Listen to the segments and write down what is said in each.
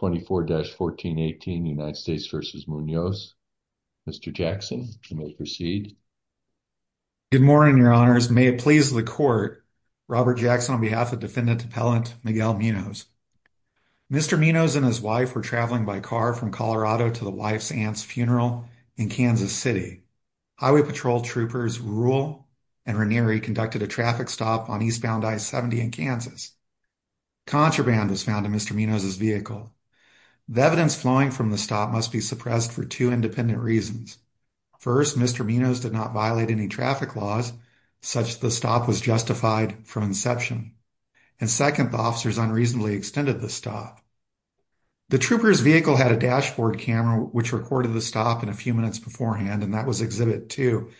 Mr. Munoz and his wife were traveling by car from Colorado to the wife's aunt's funeral in Kansas City. Highway Patrol Troopers Rule and Ranieri conducted a traffic stop on East The evidence flowing from the stop must be suppressed for two independent reasons. First, Mr. Munoz did not violate any traffic laws, such that the stop was justified from inception. And second, the officers unreasonably extended the stop. The trooper's vehicle had a dashboard camera which recorded the stop in a few minutes beforehand and that was Exhibit 2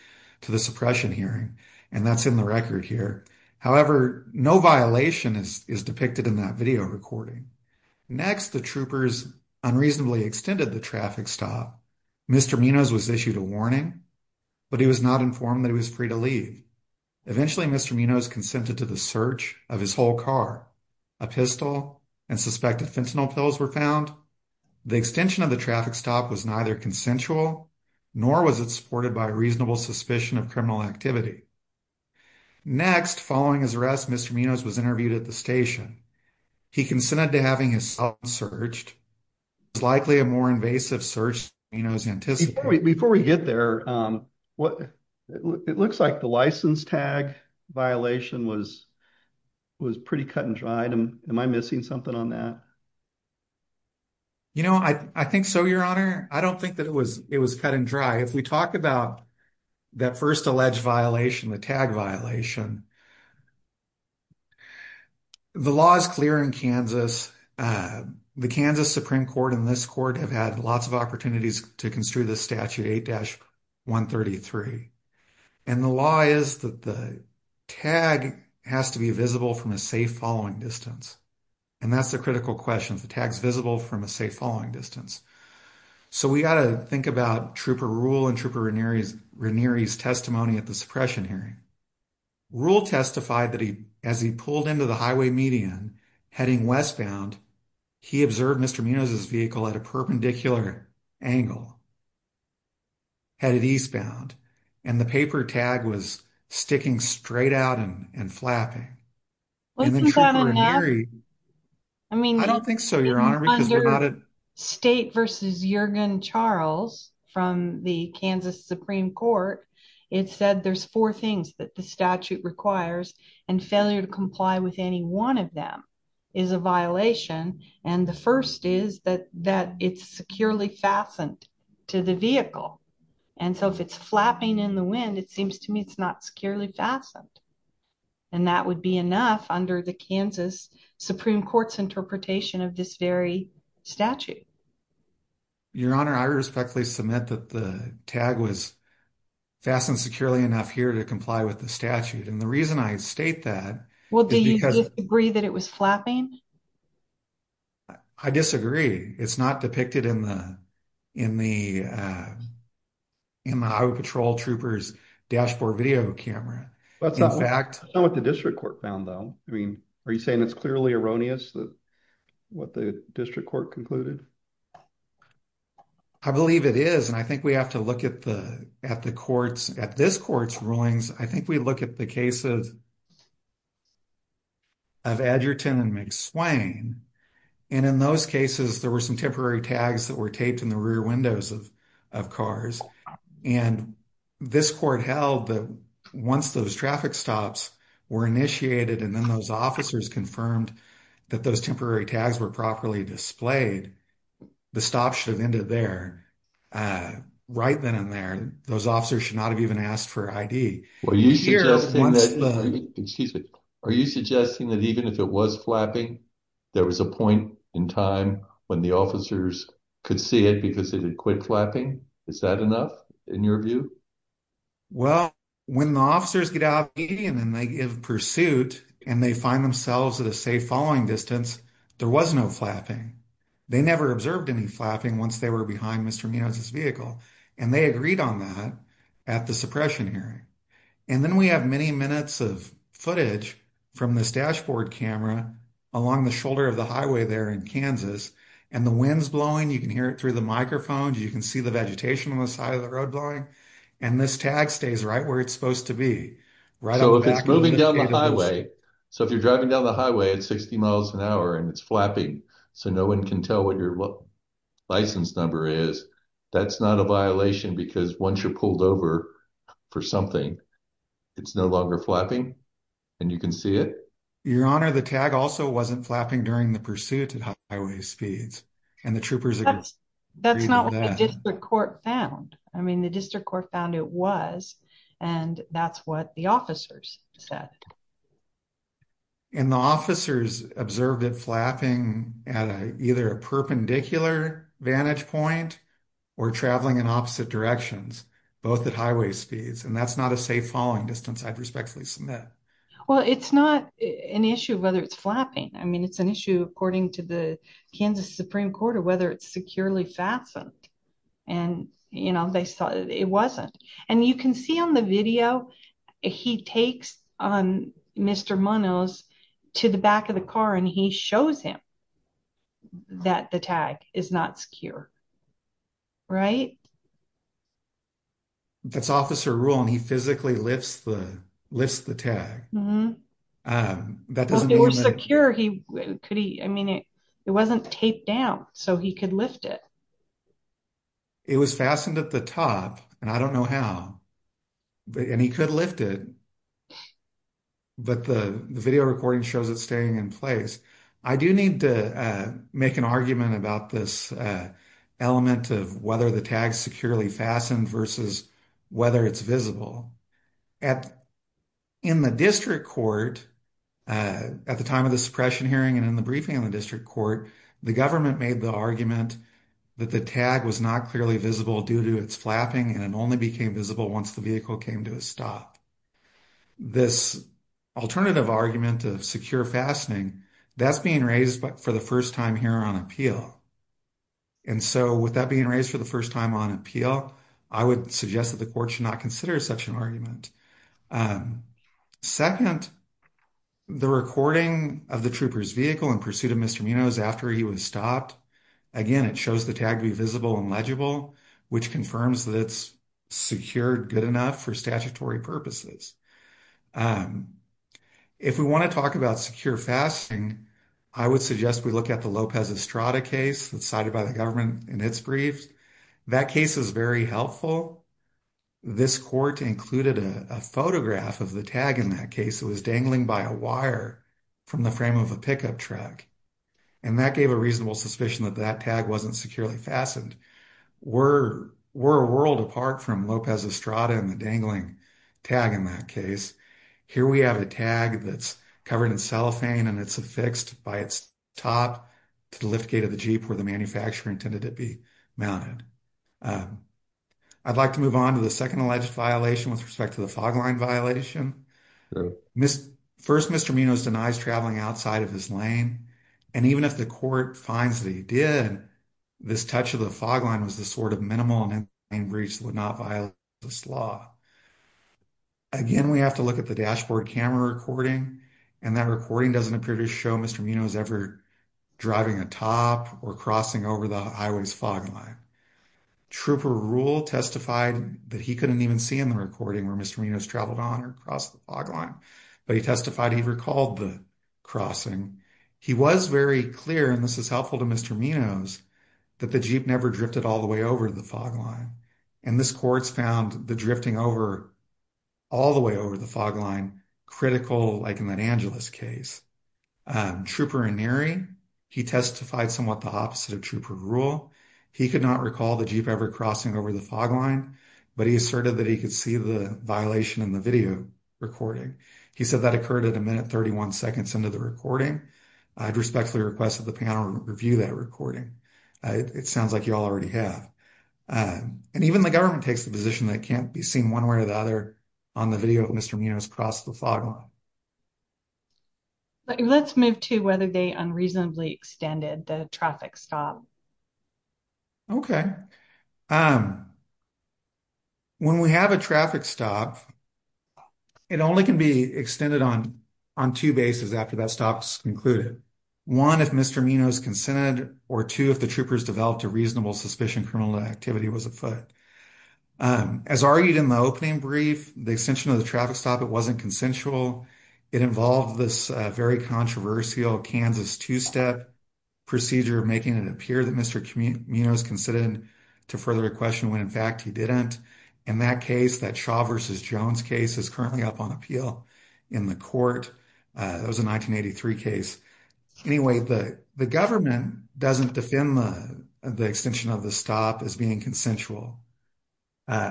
to the suppression hearing, and that's in the record here. However, no violation is depicted in that video recording. Next, the troopers unreasonably extended the traffic stop. Mr. Munoz was issued a warning, but he was not informed that he was free to leave. Eventually, Mr. Munoz consented to the search of his whole car. A pistol and suspected fentanyl pills were found. The extension of the traffic stop was neither consensual, nor was it supported by a reasonable suspicion of criminal activity. Next, following his arrest, Mr. Munoz was interviewed at the station. He consented to having his cell phone searched. It was likely a more invasive search than Munoz anticipated. Before we get there, it looks like the license tag violation was pretty cut and dry. Am I missing something on that? You know, I think so, Your Honor. I don't think that it was cut and dry. If we talk about that first alleged violation, the tag violation, the law is clear in Kansas. The Kansas Supreme Court and this court have had lots of opportunities to construe the Statute 8-133. And the law is that the tag has to be visible from a safe following distance. And that's the critical question. The tag's visible from a safe following distance. So we got to think about Trooper Rule and Trooper Ranieri's testimony at the suppression hearing. Rule testified that as he pulled into the highway median heading westbound, he observed Mr. Munoz's vehicle at a perpendicular angle headed eastbound. And the paper tag was sticking straight out and flapping. I don't think so, Your Honor. State versus Juergen Charles from the Kansas Supreme Court, it said there's four things that the statute requires and failure to comply with any one of them is a violation. And the first is that it's securely fastened to the vehicle. And so if it's flapping in the wind, it seems to me it's not securely fastened. And that would be enough under the Kansas Supreme Court's interpretation of this very statute. Your Honor, I respectfully submit that the tag was fastened securely enough here to comply with the statute. And the reason I state that... Well, do you disagree that it was flapping? I disagree. It's not depicted in the Highway Patrol Trooper's dashboard video camera. That's not what the district court found, though. I mean, are you saying it's clearly erroneous what the district court concluded? I believe it is. And I think we have to look at this court's rulings. I think we look at the cases of Edgerton and McSwain. And in those cases, there were some temporary tags that were taped in the rear windows of cars. And this court held that once those traffic stops were initiated and then those officers confirmed that those temporary tags were properly displayed, the stop should have ended there. Right then and there. Those officers should not have even asked for ID. Are you suggesting that even if it was flapping, there was a point in time when the officers could see it because it had quit flapping? Is that enough in your view? Well, when the officers get out of the vehicle and they give pursuit and they find themselves at a safe following distance, there was no flapping. They never observed any flapping once they were behind Mr. Minow's vehicle. And they agreed on that at the suppression hearing. And then we have many minutes of footage from this dashboard camera along the shoulder of the highway there in Kansas. And the wind's blowing. You can hear it through the microphone. You can see the vegetation on the side of the road blowing. And this tag stays right where it's supposed to be. So if it's moving down the highway, so if you're driving down the highway at 60 miles an hour and it's flapping so no one can tell what your license number is, that's not a violation because once you're pulled over for something, it's no longer flapping and you can see it? Your Honor, the tag also wasn't flapping during the pursuit at highway speeds. That's not what the district court found. I mean, the district court found it was, and that's what the officers said. And the officers observed it flapping at either a perpendicular vantage point or traveling in opposite directions, both at highway speeds. And that's not a safe following distance I'd respectfully submit. Well, it's not an issue of whether it's flapping. I mean, it's an issue according to the Kansas Supreme Court of whether it's securely fastened. And, you know, they saw it wasn't. And you can see on the video, he takes on Mr. Munoz to the back of the car and he shows him that the tag is not secure. Right? That's officer rule and he physically lifts the tag. If it were secure, he could, I mean, it wasn't taped down so he could lift it. It was fastened at the top, and I don't know how, and he could lift it. But the video recording shows it staying in place. I do need to make an argument about this element of whether the tag securely fastened versus whether it's visible. In the district court, at the time of the suppression hearing and in the briefing in the district court, the government made the argument that the tag was not clearly visible due to its flapping, and it only became visible once the vehicle came to a stop. This alternative argument of secure fastening, that's being raised for the first time here on appeal. And so with that being raised for the first time on appeal, I would suggest that the court should not consider such an argument. Second, the recording of the trooper's vehicle in pursuit of Mr. Munoz after he was stopped, again, it shows the tag be visible and legible, which confirms that it's secured good enough for statutory purposes. If we want to talk about secure fastening, I would suggest we look at the Lopez Estrada case that's cited by the government in its briefs. That case is very helpful. This court included a photograph of the tag in that case. It was dangling by a wire from the frame of a pickup truck, and that gave a reasonable suspicion that that tag wasn't securely fastened. We're a world apart from Lopez Estrada and the dangling tag in that case. Here we have a tag that's covered in cellophane, and it's affixed by its top to the lift gate of the Jeep where the manufacturer intended it to be mounted. I'd like to move on to the second alleged violation with respect to the fog line violation. First, Mr. Munoz denies traveling outside of his lane, and even if the court finds that he did, this touch of the fog line was the sort of minimal and in-plane breach that would not violate this law. Again, we have to look at the dashboard camera recording, and that recording doesn't appear to show Mr. Munoz ever driving atop or crossing over the highway's fog line. Trooper Rule testified that he couldn't even see in the recording where Mr. Munoz traveled on or crossed the fog line, but he testified he recalled the crossing. He was very clear, and this is helpful to Mr. Munoz, that the Jeep never drifted all the way over the fog line, and this court's found the drifting all the way over the fog line critical, like in that Angeles case. Trooper Annery, he testified somewhat the opposite of Trooper Rule. He could not recall the Jeep ever crossing over the fog line, but he asserted that he could see the violation in the video recording. He said that occurred at a minute 31 seconds into the recording. I'd respectfully request that the panel review that recording. It sounds like you all already have. And even the government takes the position that it can't be seen one way or the other on the video of Mr. Munoz cross the fog line. Let's move to whether they unreasonably extended the traffic stop. Okay. When we have a traffic stop, it only can be extended on two bases after that stop is concluded. One, if Mr. Munoz consented, or two, if the troopers developed a reasonable suspicion criminal activity was afoot. As argued in the opening brief, the extension of the traffic stop, it wasn't consensual. It involved this very controversial Kansas two-step procedure, making it appear that Mr. Munoz consented to further question when, in fact, he didn't. In that case, that Shaw versus Jones case is currently up on appeal in the court. It was a 1983 case. Anyway, the government doesn't defend the extension of the stop as being consensual. It's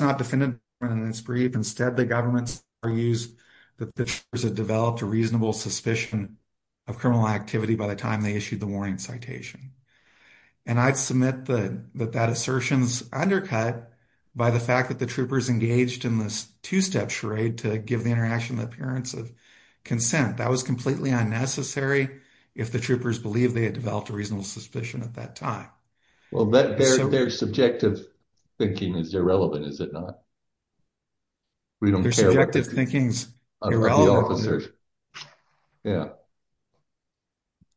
not defended in this brief. Instead, the government argues that the troopers had developed a reasonable suspicion of criminal activity by the time they issued the warning citation. And I'd submit that that assertion is undercut by the fact that the troopers engaged in this two-step charade to give the interaction the appearance of consent. It was completely unnecessary if the troopers believed they had developed a reasonable suspicion at that time. Well, their subjective thinking is irrelevant, is it not? Their subjective thinking is irrelevant.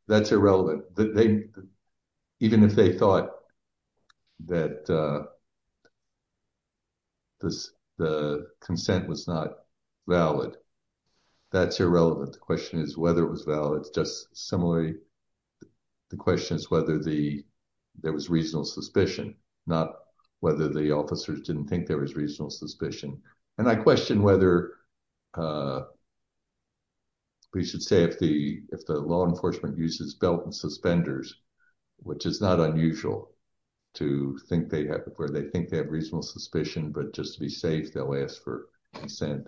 That's irrelevant. Even if they thought that the consent was not valid, that's irrelevant. The question is whether it was valid. Just similarly, the question is whether there was reasonable suspicion, not whether the officers didn't think there was reasonable suspicion. And I question whether we should say if the law enforcement uses belt and suspenders, which is not unusual to think they have, where they think they have reasonable suspicion, but just to be safe, they'll ask for consent.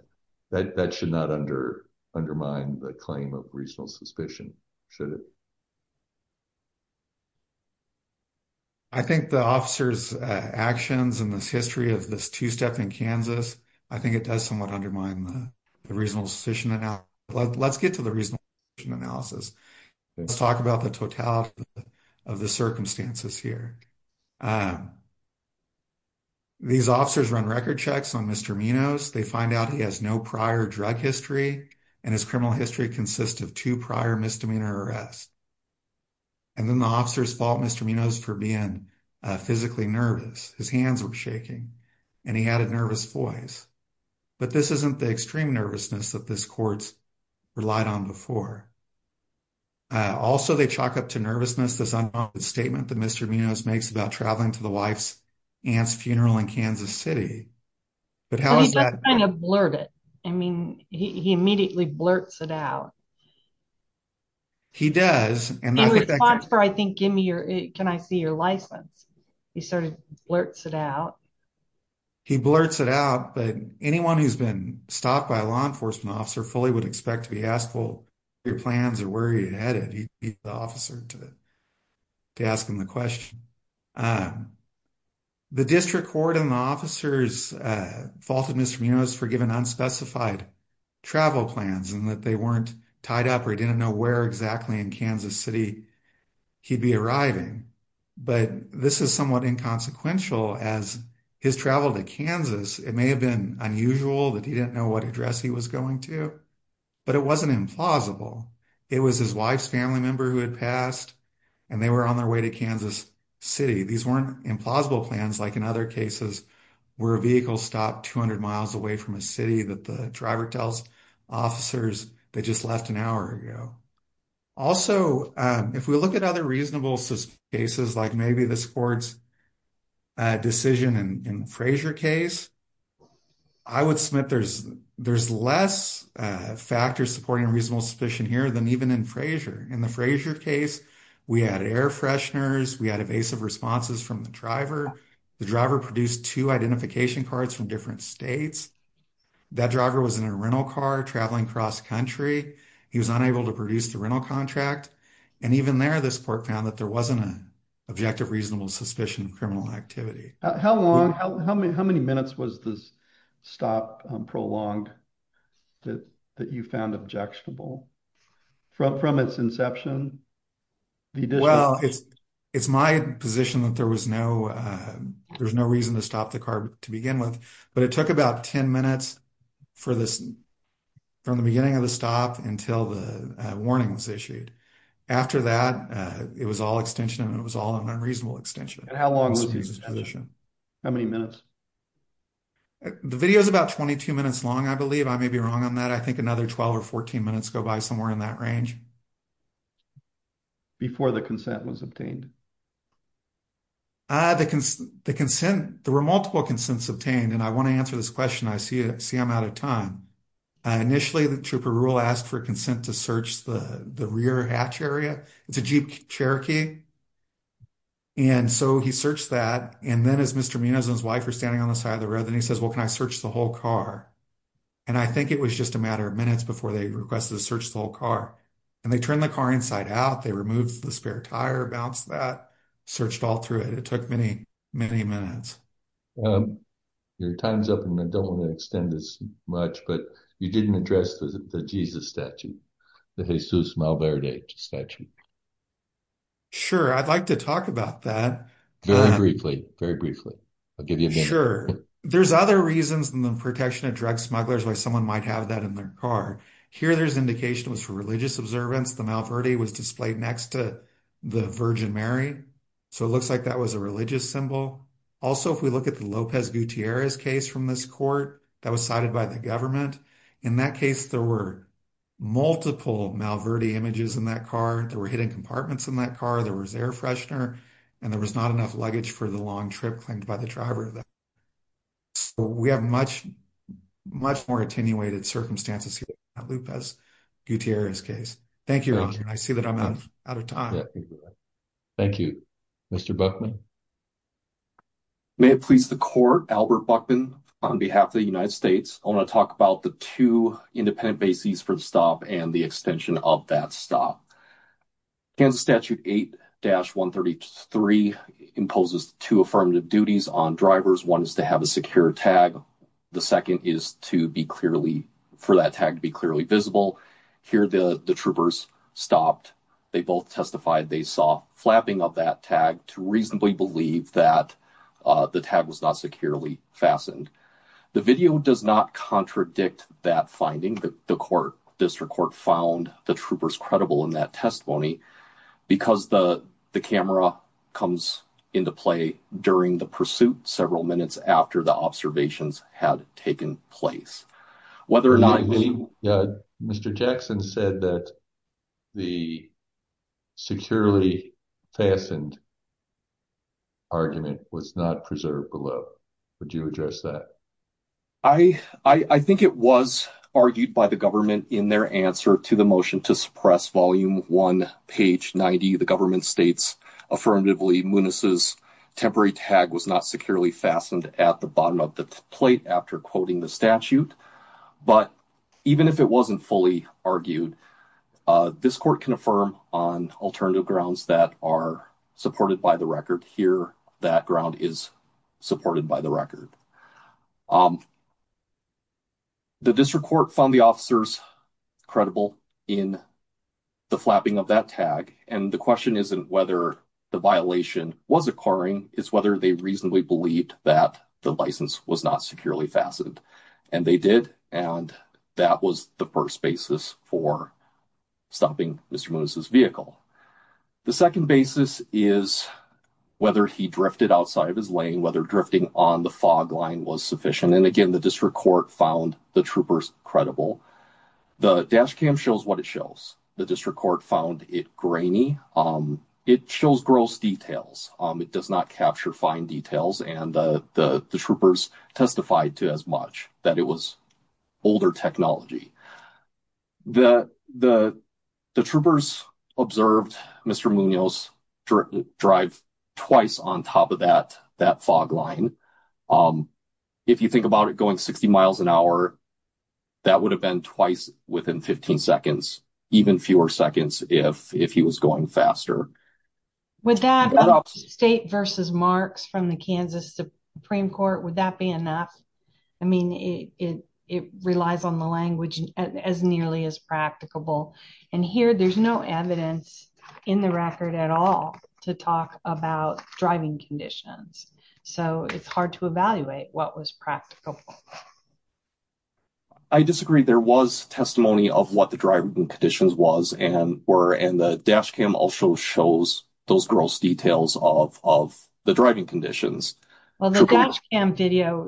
That should not undermine the claim of reasonable suspicion, should it? I think the officers' actions in this history of this two-step in Kansas, I think it does somewhat undermine the reasonable suspicion. Let's get to the reasonable suspicion analysis. Let's talk about the totality of the circumstances here. These officers run record checks on Mr. Minos. They find out he has no prior drug history, and his criminal history consists of two prior misdemeanor arrests. And then the officers fault Mr. Minos for being physically nervous. His hands were shaking, and he had a nervous voice. But this isn't the extreme nervousness that this court's relied on before. Also, they chalk up to nervousness this unoffended statement that Mr. Minos makes about traveling to the wife's aunt's funeral in Kansas City. But how is that? He doesn't kind of blurt it. I mean, he immediately blurts it out. He does. In response for, I think, can I see your license, he sort of blurts it out. He blurts it out, but anyone who's been stopped by a law enforcement officer fully would expect to be asked, well, what are your plans or where are you headed? He'd beat the officer to ask him the question. The district court and the officers faulted Mr. Minos for giving unspecified travel plans and that they weren't tied up or he didn't know where exactly in Kansas City he'd be arriving. But this is somewhat inconsequential as his travel to Kansas, it may have been unusual that he didn't know what address he was going to, but it wasn't implausible. It was his wife's family member who had passed, and they were on their way to Kansas City. These weren't implausible plans like in other cases where a vehicle stopped 200 miles away from a city that the driver tells officers they just left an hour ago. Also, if we look at other reasonable cases, like maybe this court's decision in the Frazier case, I would submit there's less factors supporting reasonable suspicion here than even in Frazier. In the Frazier case, we had air fresheners, we had evasive responses from the driver, the driver produced two identification cards from different states. That driver was in a rental car traveling cross country, he was unable to produce the rental contract. And even there, this court found that there wasn't an objective reasonable suspicion of criminal activity. How long, how many minutes was this stop prolonged that you found objectionable from its inception? Well, it's my position that there was no reason to stop the car to begin with, but it took about 10 minutes from the beginning of the stop until the warning was issued. After that, it was all extension, and it was all an unreasonable extension. How long was this position? How many minutes? The video is about 22 minutes long, I believe. I may be wrong on that. I think another 12 or 14 minutes go by somewhere in that range. Before the consent was obtained? The consent, there were multiple consents obtained, and I want to answer this question. I see I'm out of time. Initially, the Trooper Rule asked for consent to search the rear hatch area. It's a Jeep Cherokee. And so he searched that, and then as Mr. Munoz and his wife were standing on the side of the road, he says, well, can I search the whole car? And I think it was just a matter of minutes before they requested to search the whole car. And they turned the car inside out, they removed the spare tire, bounced that, searched all through it. It took many, many minutes. Your time's up, and I don't want to extend this much, but you didn't address the Jesus statue, the Jesus Malverde statue. Sure, I'd like to talk about that. Very briefly, very briefly. I'll give you a minute. Sure. There's other reasons than the protection of drug smugglers why someone might have that in their car. Here, there's indication it was for religious observance. The Malverde was displayed next to the Virgin Mary, so it looks like that was a religious symbol. Also, if we look at the Lopez Gutierrez case from this court, that was cited by the government. In that case, there were multiple Malverde images in that car. There were hidden compartments in that car. There was air freshener, and there was not enough luggage for the long trip claimed by the driver. We have much more attenuated circumstances here in the Lopez Gutierrez case. Thank you, Your Honor. I see that I'm out of time. Thank you. Mr. Buckman? May it please the Court, Albert Buckman, on behalf of the United States, I want to talk about the two independent bases for the stop and the extension of that stop. Kansas Statute 8-133 imposes two affirmative duties on drivers. One is to have a secure tag. The second is for that tag to be clearly visible. Here, the troopers stopped. They both testified they saw flapping of that tag to reasonably believe that the tag was not securely fastened. The video does not contradict that finding. The District Court found the troopers credible in that testimony because the camera comes into play during the pursuit several minutes after the observations had taken place. Mr. Jackson said that the securely fastened argument was not preserved below. Would you address that? I think it was argued by the government in their answer to the motion to suppress Volume 1, page 90. The government states affirmatively, Muniz's temporary tag was not securely fastened at the bottom of the plate after quoting the statute. But even if it wasn't fully argued, this Court can affirm on alternative grounds that are supported by the record. Here, that ground is supported by the record. The District Court found the officers credible in the flapping of that tag. And the question isn't whether the violation was occurring, it's whether they reasonably believed that the license was not securely fastened. And they did, and that was the first basis for stopping Mr. Muniz's vehicle. The second basis is whether he drifted outside of his lane, whether drifting on the fog line was sufficient. And again, the District Court found the troopers credible. The dash cam shows what it shows. The District Court found it grainy. It shows gross details. It does not capture fine details, and the troopers testified to as much, that it was older technology. The troopers observed Mr. Munoz drive twice on top of that fog line. If you think about it, going 60 miles an hour, that would have been twice within 15 seconds. Even fewer seconds if he was going faster. With that, State v. Marks from the Kansas Supreme Court, would that be enough? I mean, it relies on the language as nearly as practicable. And here, there's no evidence in the record at all to talk about driving conditions. So, it's hard to evaluate what was practicable. I disagree. There was testimony of what the driving conditions were, and the dash cam also shows those gross details of the driving conditions. Well, the dash cam video,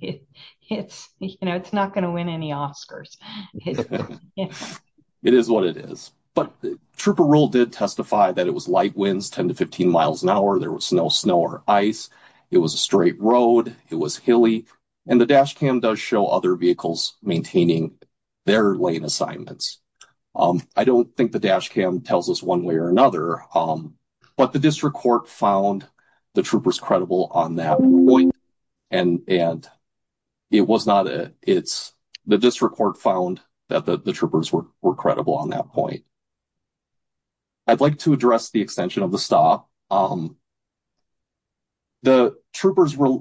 it's not going to win any Oscars. It is what it is. But the trooper rule did testify that it was light winds, 10 to 15 miles an hour, there was no snow or ice, it was a straight road, it was hilly. And the dash cam does show other vehicles maintaining their lane assignments. I don't think the dash cam tells us one way or another. But the district court found the troopers credible on that point. And the district court found that the troopers were credible on that point. I'd like to address the extension of the stop. The troopers were...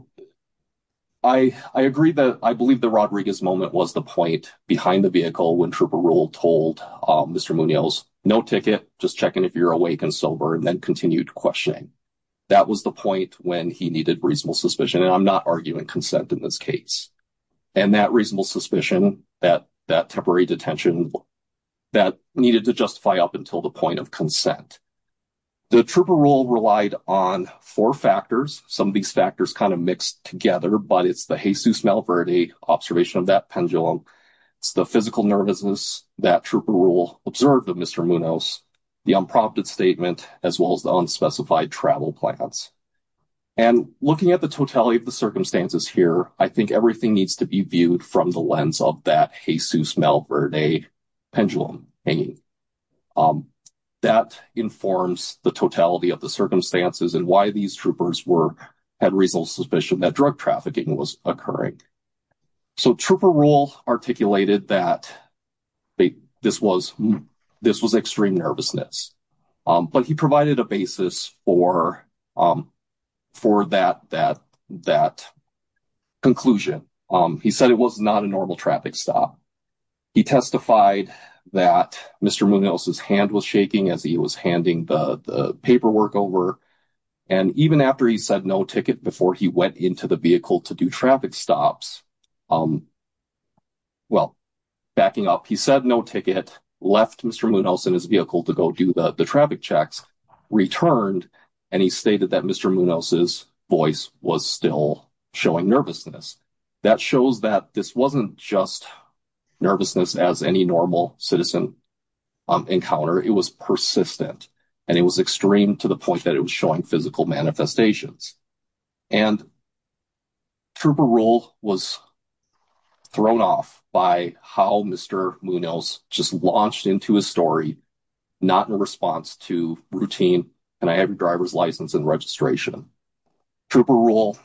I agree that I believe the Rodriguez moment was the point behind the vehicle when trooper rule told Mr. Munoz, no ticket, just checking if you're awake and sober, and then continued questioning. That was the point when he needed reasonable suspicion, and I'm not arguing consent in this case. And that reasonable suspicion, that temporary detention, that needed to justify up until the point of consent. The trooper rule relied on four factors, some of these factors kind of mixed together, but it's the Jesus Malverde observation of that pendulum, it's the physical nervousness that trooper rule observed of Mr. Munoz, the unprompted statement, as well as the unspecified travel plans. And looking at the totality of the circumstances here, I think everything needs to be viewed from the lens of that Jesus Malverde pendulum hanging. That informs the totality of the circumstances and why these troopers had reasonable suspicion that drug trafficking was occurring. So trooper rule articulated that this was extreme nervousness. But he provided a basis for that conclusion. He said it was not a normal traffic stop. He testified that Mr. Munoz's hand was shaking as he was handing the paperwork over. And even after he said no ticket before he went into the vehicle to do traffic stops, well, backing up, he said no ticket, left Mr. Munoz in his vehicle to go do the traffic checks, returned, and he stated that Mr. Munoz's voice was still showing nervousness. That shows that this wasn't just nervousness as any normal citizen encounter. It was persistent and it was extreme to the point that it was showing physical manifestations. And trooper rule was thrown off by how Mr. Munoz just launched into a story, not in response to routine and I have your driver's license and registration. Trooper rule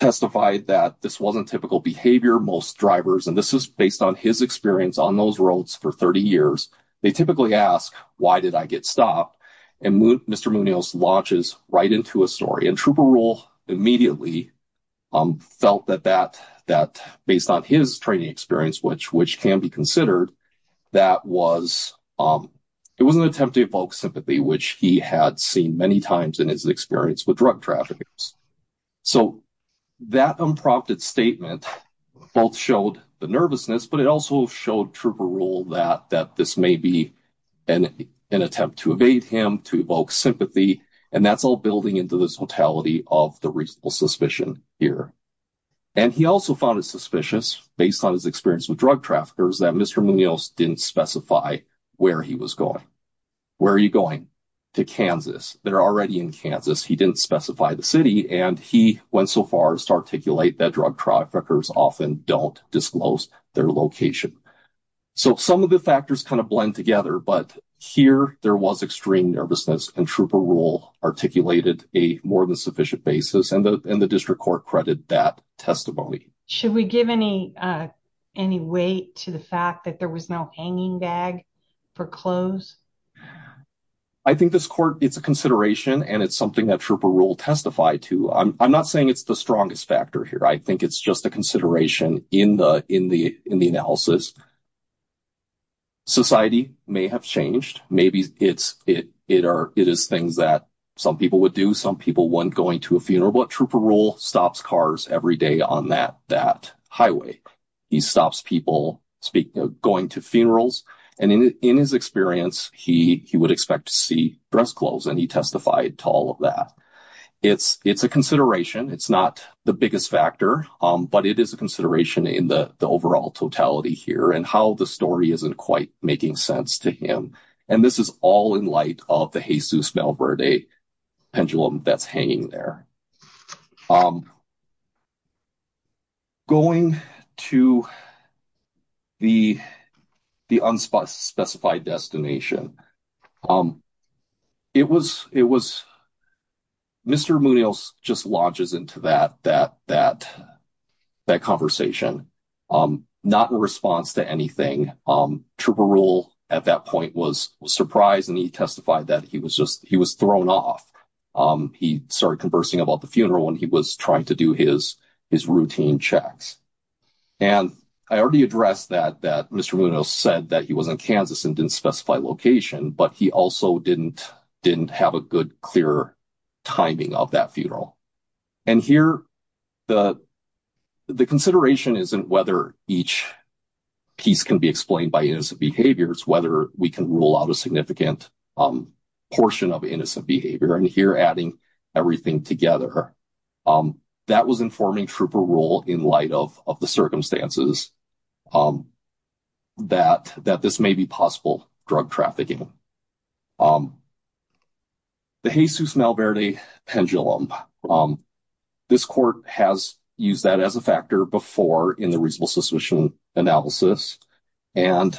testified that this wasn't typical behavior. Most drivers, and this is based on his experience on those roads for 30 years, they typically ask, why did I get stopped? And Mr. Munoz launches right into a story. And trooper rule immediately felt that based on his training experience, which can be considered, that it was an attempt to evoke sympathy, which he had seen many times in his experience with drug traffickers. So that unprompted statement both showed the nervousness, but it also showed trooper rule that this may be an attempt to evade him, to evoke sympathy, and that's all building into this totality of the reasonable suspicion here. And he also found it suspicious, based on his experience with drug traffickers, that Mr. Munoz didn't specify where he was going. Where are you going? To Kansas. They're already in Kansas, he didn't specify the city, and he went so far as to articulate that drug traffickers often don't disclose their location. So some of the factors kind of blend together, but here there was extreme nervousness and trooper rule articulated a more than sufficient basis, and the district court credited that testimony. Should we give any weight to the fact that there was no hanging bag for clothes? I think this court, it's a consideration, and it's something that trooper rule testified to. I'm not saying it's the strongest factor here. I think it's just a consideration in the analysis. Society may have changed. Maybe it is things that some people would do. Maybe some people, when going to a funeral, what trooper rule? Stops cars every day on that highway. He stops people going to funerals, and in his experience, he would expect to see dress clothes, and he testified to all of that. It's a consideration. It's not the biggest factor, but it is a consideration in the overall totality here, and how the story isn't quite making sense to him. And this is all in light of the Jesus-Melbourne Day pendulum that's hanging there. Going to the unspecified destination. Mr. Munoz just launches into that conversation, not in response to anything. Trooper rule, at that point, was surprised, and he testified that he was thrown off. He started conversing about the funeral, and he was trying to do his routine checks. And I already addressed that, that Mr. Munoz said that he was in Kansas and didn't specify location, but he also didn't have a good, clear timing of that funeral. And here, the consideration isn't whether each piece can be explained by innocent behavior. It's whether we can rule out a significant portion of innocent behavior. And here, adding everything together, that was informing trooper rule in light of the circumstances that this may be possible drug trafficking. The Jesus-Melbourne Day pendulum. This court has used that as a factor before in the reasonable suspicion analysis. And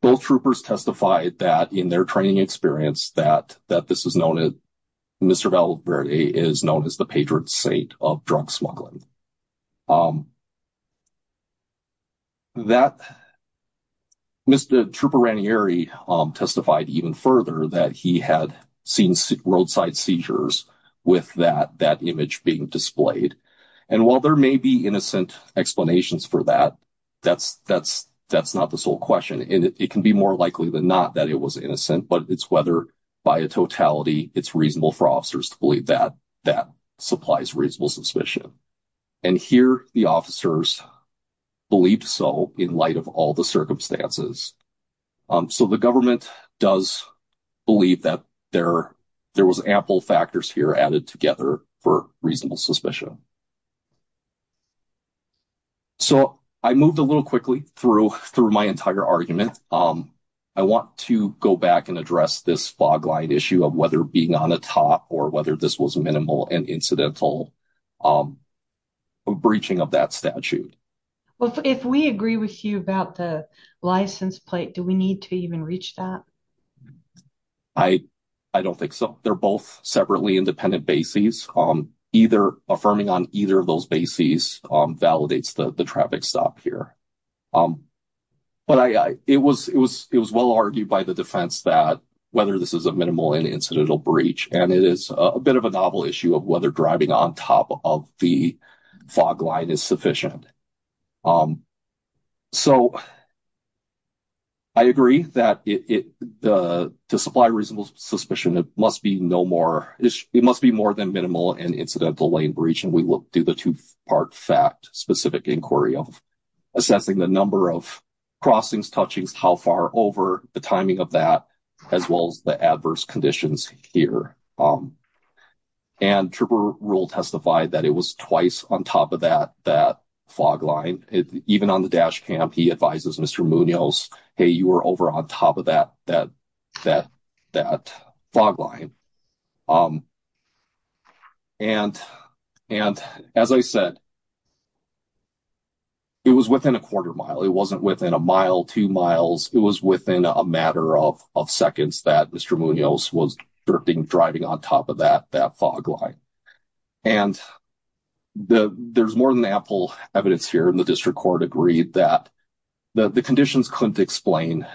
both troopers testified that, in their training experience, that this is known as Mr. Melbourne Day is known as the patron saint of drug smuggling. That Mr. Trooper Ranieri testified even further that he had seen roadside seizures with that image being displayed. And while there may be innocent explanations for that, that's not the sole question. And it can be more likely than not that it was innocent, but it's whether, by a totality, it's reasonable for officers to believe that that supplies reasonable suspicion. And here, the officers believed so in light of all the circumstances. So the government does believe that there was ample factors here added together for reasonable suspicion. So I moved a little quickly through my entire argument. I want to go back and address this fog line issue of whether being on the top or whether this was minimal and incidental breaching of that statute. If we agree with you about the license plate, do we need to even reach that? I don't think so. They're both separately independent bases. Affirming on either of those bases validates the traffic stop here. But it was well argued by the defense that whether this is a minimal and incidental breach, and it is a bit of a novel issue of whether driving on top of the fog line is sufficient. So I agree that to supply reasonable suspicion, it must be no more, it must be more than minimal and incidental lane breach, and we will do the two-part fact specific inquiry of assessing the number of crossings, touchings, how far over, the timing of that, as well as the adverse conditions here. And Trooper Rule testified that it was twice on top of that fog line. Even on the dash cam, he advises Mr. Munoz, hey, you were over on top of that fog line. And as I said, it was within a quarter mile. It wasn't within a mile, two miles. It was within a matter of seconds that Mr. Munoz was drifting, driving on top of that fog line. And there's more than ample evidence here. And the district court agreed that the conditions couldn't explain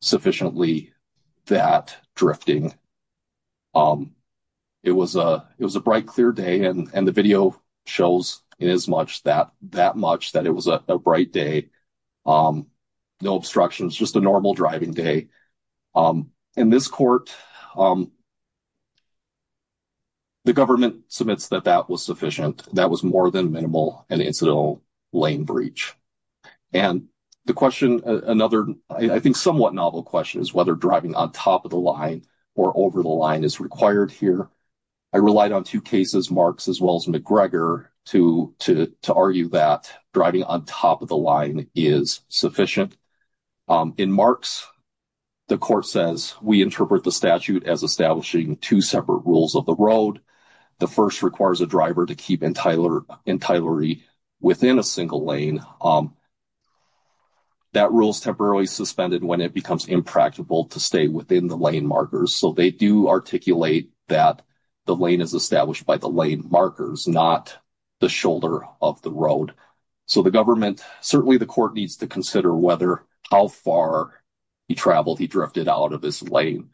sufficiently that drifting. It was a bright, clear day, and the video shows it as much that it was a bright day. No obstructions, just a normal driving day. In this court, the government submits that that was sufficient. That was more than minimal and incidental lane breach. And the question, another I think somewhat novel question, is whether driving on top of the line or over the line is required here. I relied on two cases, Marks as well as McGregor, to argue that driving on top of the line is sufficient. In Marks, the court says, we interpret the statute as establishing two separate rules of the road. The first requires a driver to keep entitlery within a single lane. That rule is temporarily suspended when it becomes impractical to stay within the lane markers. So they do articulate that the lane is established by the lane markers, not the shoulder of the road. So the government, certainly the court needs to consider whether, how far he traveled, he drifted out of this lane.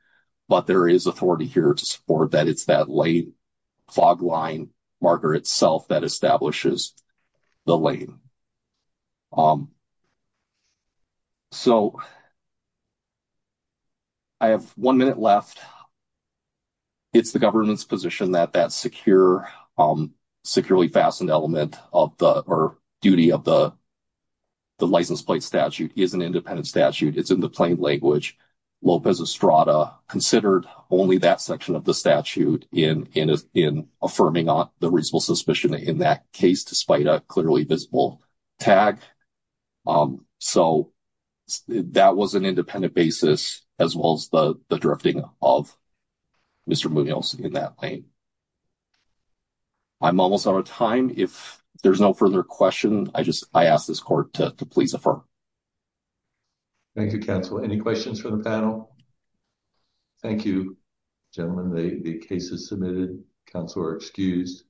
But there is authority here to support that it's that lane fog line marker itself that establishes the lane. So, I have one minute left. It's the government's position that that securely fastened element of the duty of the license plate statute is an independent statute. It's in the plain language. Lopez Estrada considered only that section of the statute in affirming the reasonable suspicion in that case despite a clearly visible tag. So, that was an independent basis as well as the drifting of Mr. Munoz in that lane. I'm almost out of time. If there's no further question, I ask this court to please affirm. Thank you, counsel. Any questions for the panel? Thank you, gentlemen. The case is submitted. Counsel are excused.